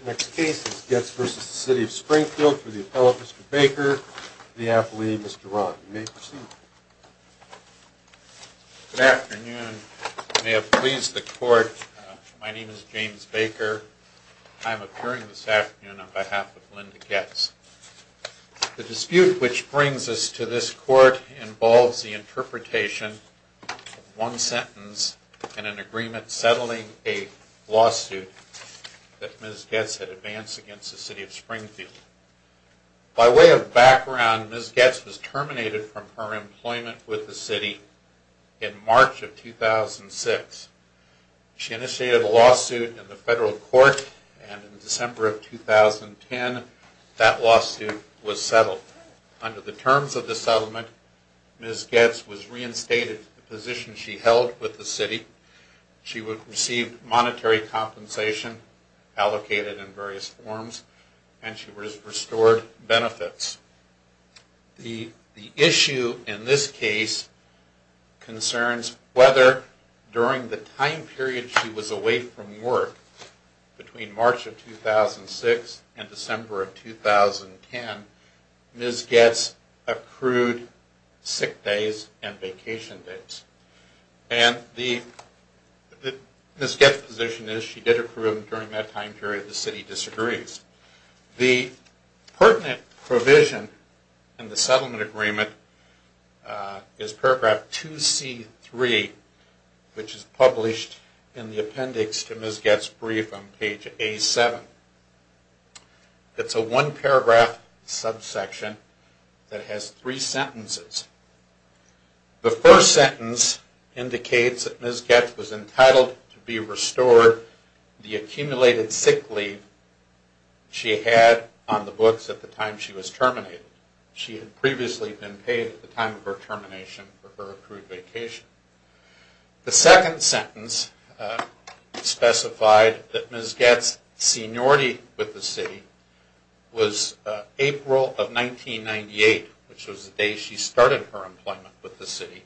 The next case is Goetz v. The City of Springfield for the appellate, Mr. Baker, and the affilee, Mr. Rahn. You may proceed. Good afternoon. May it please the Court, my name is James Baker. I am appearing this afternoon on behalf of Linda Goetz. The dispute which brings us to this Court involves the interpretation of one sentence in an agreement settling a lawsuit that Ms. Goetz had advanced against the City of Springfield. By way of background, Ms. Goetz was terminated from her employment with the City in March of 2006. She initiated a lawsuit in the Federal Court, and in December of 2010, that lawsuit was settled. Under the terms of the settlement, Ms. Goetz was reinstated to the position she held with the City. She received monetary compensation allocated in various forms, and she was restored benefits. The issue in this case concerns whether, during the time period she was away from work, between March of 2006 and December of 2010, Ms. Goetz accrued sick days and vacation days. And Ms. Goetz's position is that she did accrue them during that time period. The City disagrees. The pertinent provision in the settlement agreement is paragraph 2C3, which is published in the appendix to Ms. Goetz's brief on page A7. It's a one-paragraph subsection that has three sentences. The first sentence indicates that Ms. Goetz was entitled to be restored the accumulated sick leave she had on the books at the time she was terminated. She had previously been paid at the time of her termination for her accrued vacation. The second sentence specified that Ms. Goetz's seniority with the City was April of 1998, which was the day she started her employment with the City,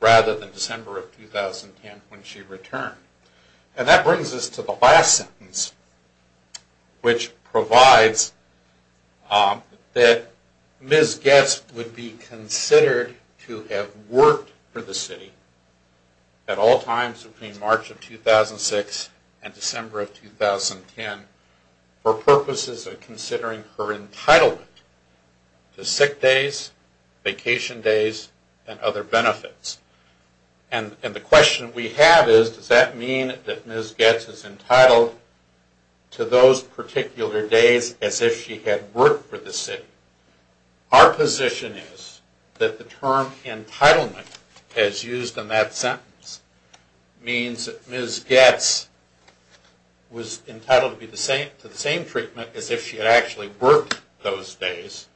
rather than December of 2010 when she returned. And that brings us to the last sentence, which provides that Ms. Goetz would be considered to have worked for the City at all times between March of 2006 and December of 2010 for purposes of particular days as if she had worked for the City. Our position is that the term entitlement, as used in that sentence, means that Ms. Goetz was entitled to the same treatment as if she had actually worked those days,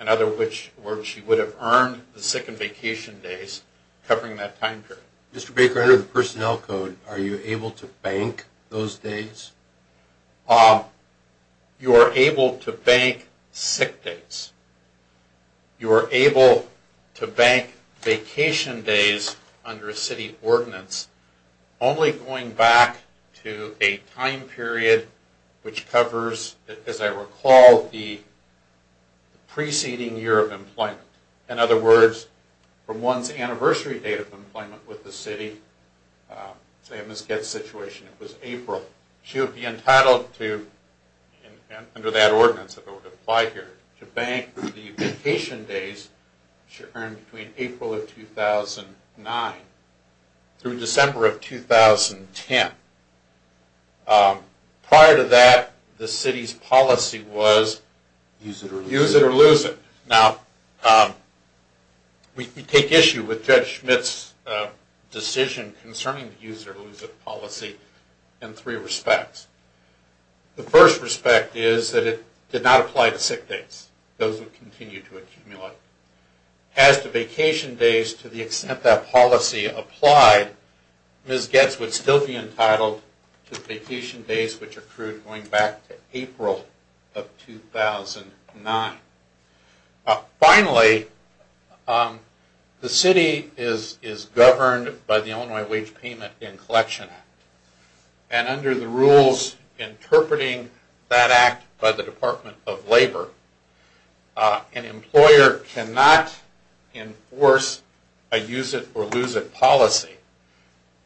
in other words, she would have earned the sick and vacation days covering that time period. Mr. Baker, under the personnel code, are you able to bank those days? You are able to bank sick days. You are able to bank vacation days under a City ordinance, only going back to a time period which covers, as I recall, the preceding year of employment. In other words, from one's anniversary date of employment with the City, say in Ms. Goetz's situation, it was April, she would be use it or lose it. Now, we take issue with Judge Schmidt's decision concerning the use it or lose it policy in three respects. The first respect is that it did not apply to sick days. Those would continue to accumulate. As to vacation days, to the extent that policy applied, Ms. Goetz would still be entitled to vacation days which accrued going back to April of 2009. Finally, the City is governed by the Illinois Wage Payment and Collection Act, and under the rules interpreting that act by the Department of Labor, an employer cannot enforce a use it or lose it policy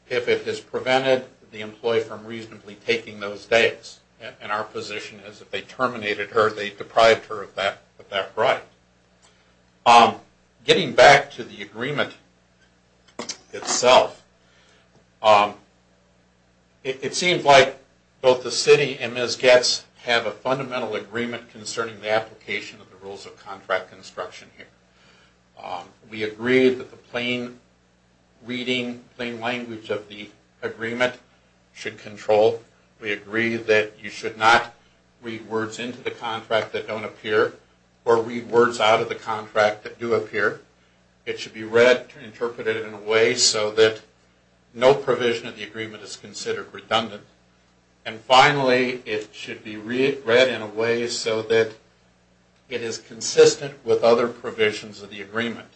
if it has prevented the employee from reasonably taking those days. Our position is that if they terminated her, they deprived her of that right. Getting back to the agreement itself, it seems like both the City and Ms. Goetz have a fundamental agreement concerning the application of the rules of contract construction here. We agree that the plain reading, plain language of the agreement should control. We agree that you should not read words into the contract that don't appear or read words out of the contract that do appear. It should be read and interpreted in a way so that no provision of the agreement is considered redundant. Finally, it should be read in a way so that it is consistent with other provisions of the agreement.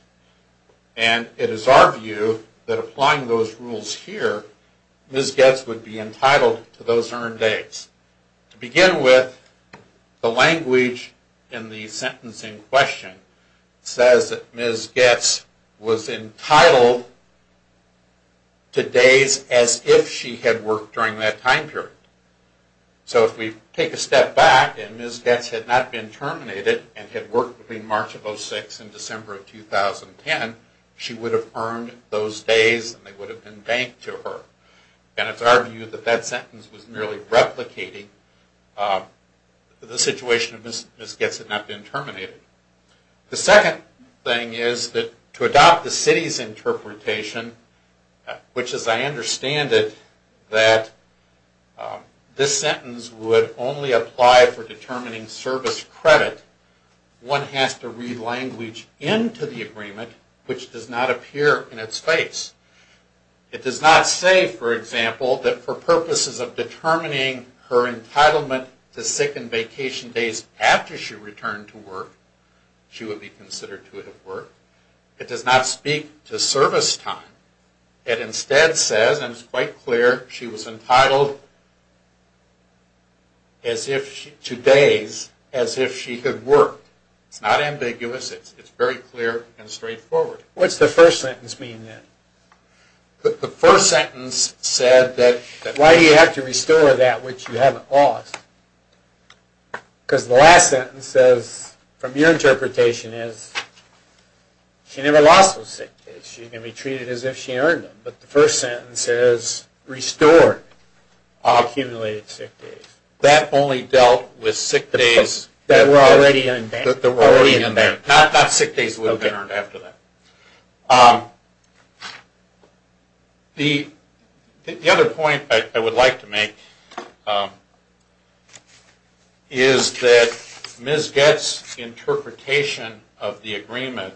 It is our view that applying those rules here, Ms. Goetz would be entitled to those earned days. To begin with, the language in the sentencing question says that Ms. Goetz was entitled to days as if she had worked during that time period. So if we take a step back and Ms. Goetz had not been terminated and had worked between March of 2006 and December of 2010, she would have earned those days and they would have been banked to her. And it is our view that that sentence was merely replicating the situation of Ms. Goetz had not been terminated. The second thing is that to adopt the city's interpretation, which as I understand it, that this sentence would only apply for determining service credit, one has to read language into the agreement which does not appear in its face. It does not say, for example, that for purposes of determining her entitlement to sick and vacation days after she returned to work, she would be considered to have worked. It does not speak to service time. It instead says, and it's quite clear, she was entitled to days as if she had worked. It's not ambiguous, it's very clear and straightforward. What's the first sentence mean then? The first sentence said that... Why do you have to restore that which you haven't lost? Because the last sentence says, from your interpretation, is she never lost those sick days. She's going to be treated as if she earned them. But the first sentence says, restore all accumulated sick days. That only dealt with sick days that were already in there. Not sick days that would have been earned after that. The other point I would like to make is that Ms. Goetz's interpretation of the agreement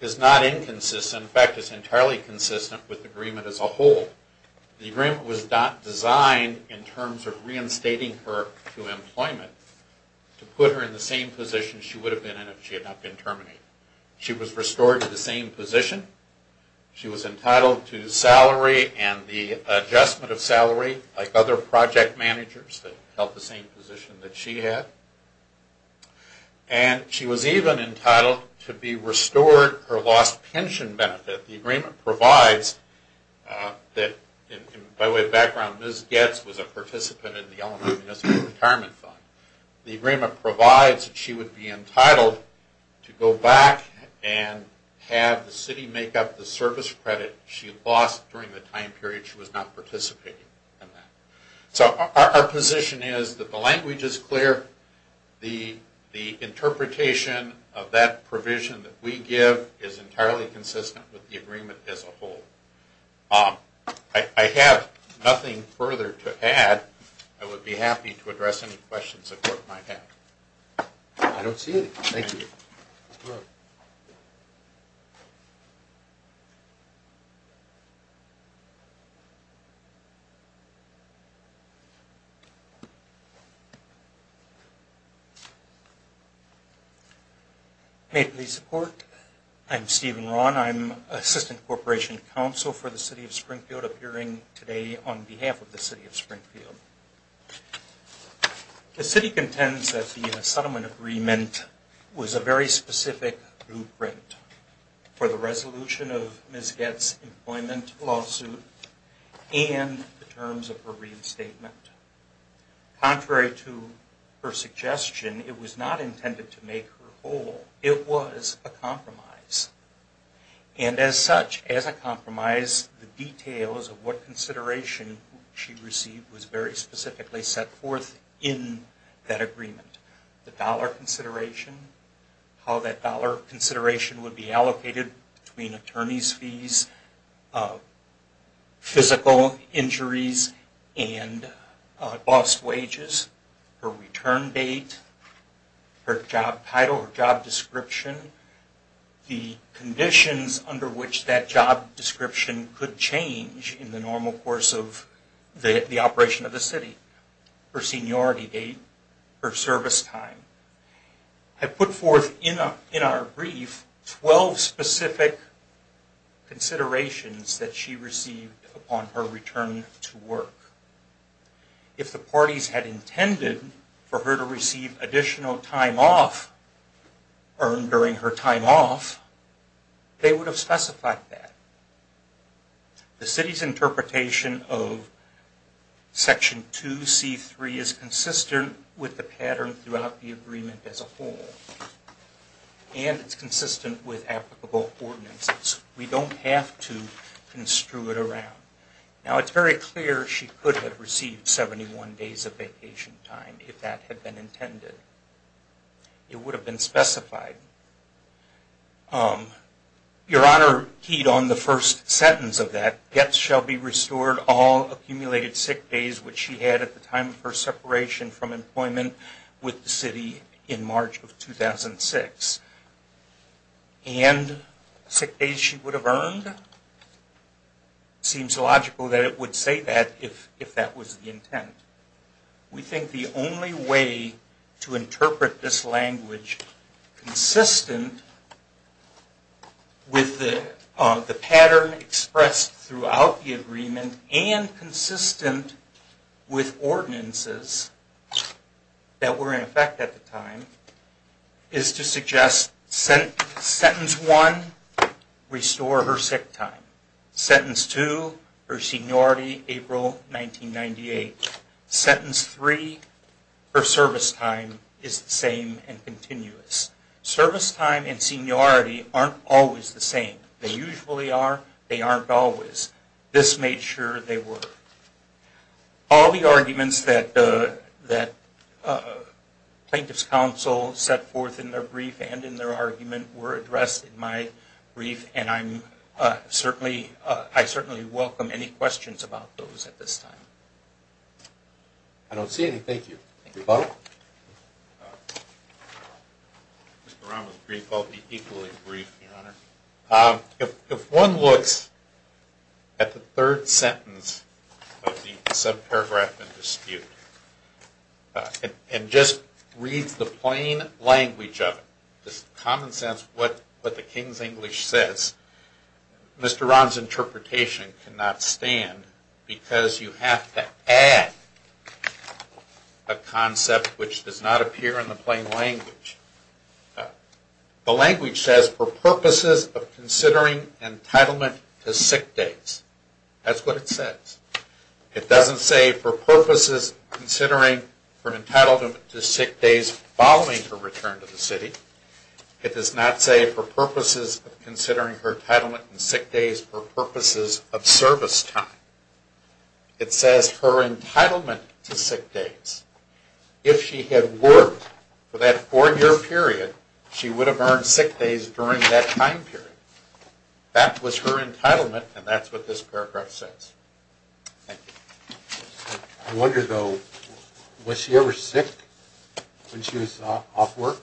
is not inconsistent. In fact, it's entirely consistent with the agreement as a whole. The agreement was not designed in terms of reinstating her to employment to put her in the same position she would have been in if she had not been terminated. She was restored to the same position. She was entitled to salary and the adjustment of salary like other project managers that held the same position that she had. And she was even entitled to be restored her lost pension benefit. The agreement provides that, by way of background, Ms. Goetz was a participant in the Illinois Municipal Retirement Fund. The agreement provides that she would be entitled to go back and have the city make up the service credit she lost during the time period she was not participating in that. So our position is that the language is clear. The interpretation of that provision that we give is entirely consistent with the agreement as a whole. I have nothing further to add. I would be happy to address any questions the court might have. I don't see any. Thank you. May it please the court. I'm Stephen Rahn. I'm Assistant Corporation Counsel for the City of Springfield, appearing today on behalf of the City of Springfield. The City contends that the settlement agreement was a very specific blueprint for the resolution of Ms. Goetz's employment lawsuit and the terms of her reinstatement. Contrary to her suggestion, it was not intended to make her whole. It was a compromise. And as such, as a compromise, the details of what consideration she received was very specifically set forth in that agreement. The dollar consideration, how that dollar consideration would be allocated between attorney's fees, physical injuries and lost wages, her return date, her job title, her job description, the conditions under which that job description could change in the normal course of the operation of the city, her seniority date, her service time. I put forth in our brief 12 specific considerations that she received upon her return to work. If the parties had intended for her to receive additional time off earned during her time off, they would have specified that. The city's interpretation of Section 2C3 is consistent with the pattern throughout the agreement as a whole. And it's consistent with applicable ordinances. We don't have to construe it around. Now it's very clear she could have received 71 days of vacation time if that had been intended. It would have been specified. Your Honor keyed on the first sentence of that. Gets shall be restored all accumulated sick days which she had at the time of her separation from employment with the city in March of 2006. And sick days she would have earned? Seems logical that it would say that if that was the intent. We think the only way to interpret this language consistent with the pattern expressed throughout the agreement and consistent with ordinances that were in effect at the time is to suggest sentence one, restore her sick time. Sentence two, her seniority April 1998. Sentence three, her service time is the same and continuous. Service time and seniority aren't always the same. They usually are, they aren't always. This made sure they were. All the arguments that Plaintiff's counsel set forth in their brief and in their argument were addressed in my brief and I certainly welcome any questions about those at this time. I don't see anything. Thank you. If one looks at the third sentence of the subparagraph in dispute and just reads the plain language of it, just the common sense of what the King's English says, Mr. Rahn's interpretation cannot stand because you have to add a concept which does not appear in the plain language. The language says for purposes of considering entitlement to sick days. That's what it says. It doesn't say for purposes considering her entitlement to sick days following her return to the city. It does not say for purposes of considering her entitlement to sick days for purposes of service time. It says her entitlement to sick days. If she had worked for that four year period, she would have earned sick days during that time period. That was her entitlement and that's what this paragraph says. Thank you. I wonder though, was she ever sick when she was off work?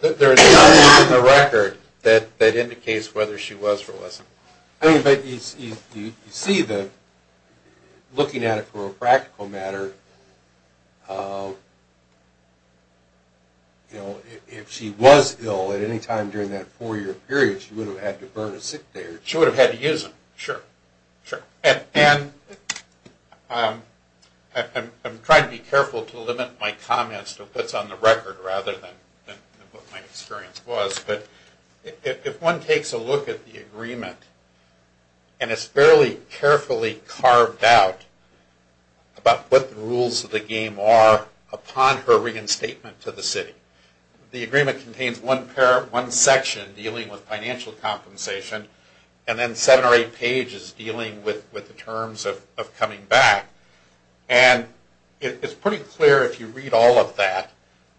There is nothing in the record that indicates whether she was or wasn't. You see that looking at it for a practical matter, if she was ill at any time during that four year period, she would have had to earn a sick day. She would have had to use them. Sure. I'm trying to be careful to limit my comments to what's on the record rather than what my experience was, but if one takes a look at the agreement and it's fairly carefully carved out about what the rules of the game are upon her reinstatement to the city. The agreement contains one section dealing with financial compensation and then seven or eight pages dealing with the terms of coming back. It's pretty clear if you read all of that,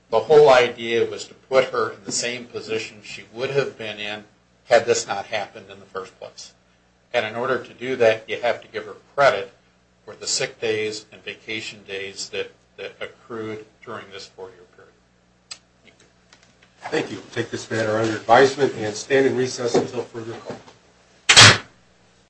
the whole idea was to put her in the same position she would have been in had this not happened in the first place. In order to do that, you have to give her credit for the sick days and vacation days that accrued during this four year period. Thank you. Thank you. We'll take this matter under advisement and stand in recess until further call.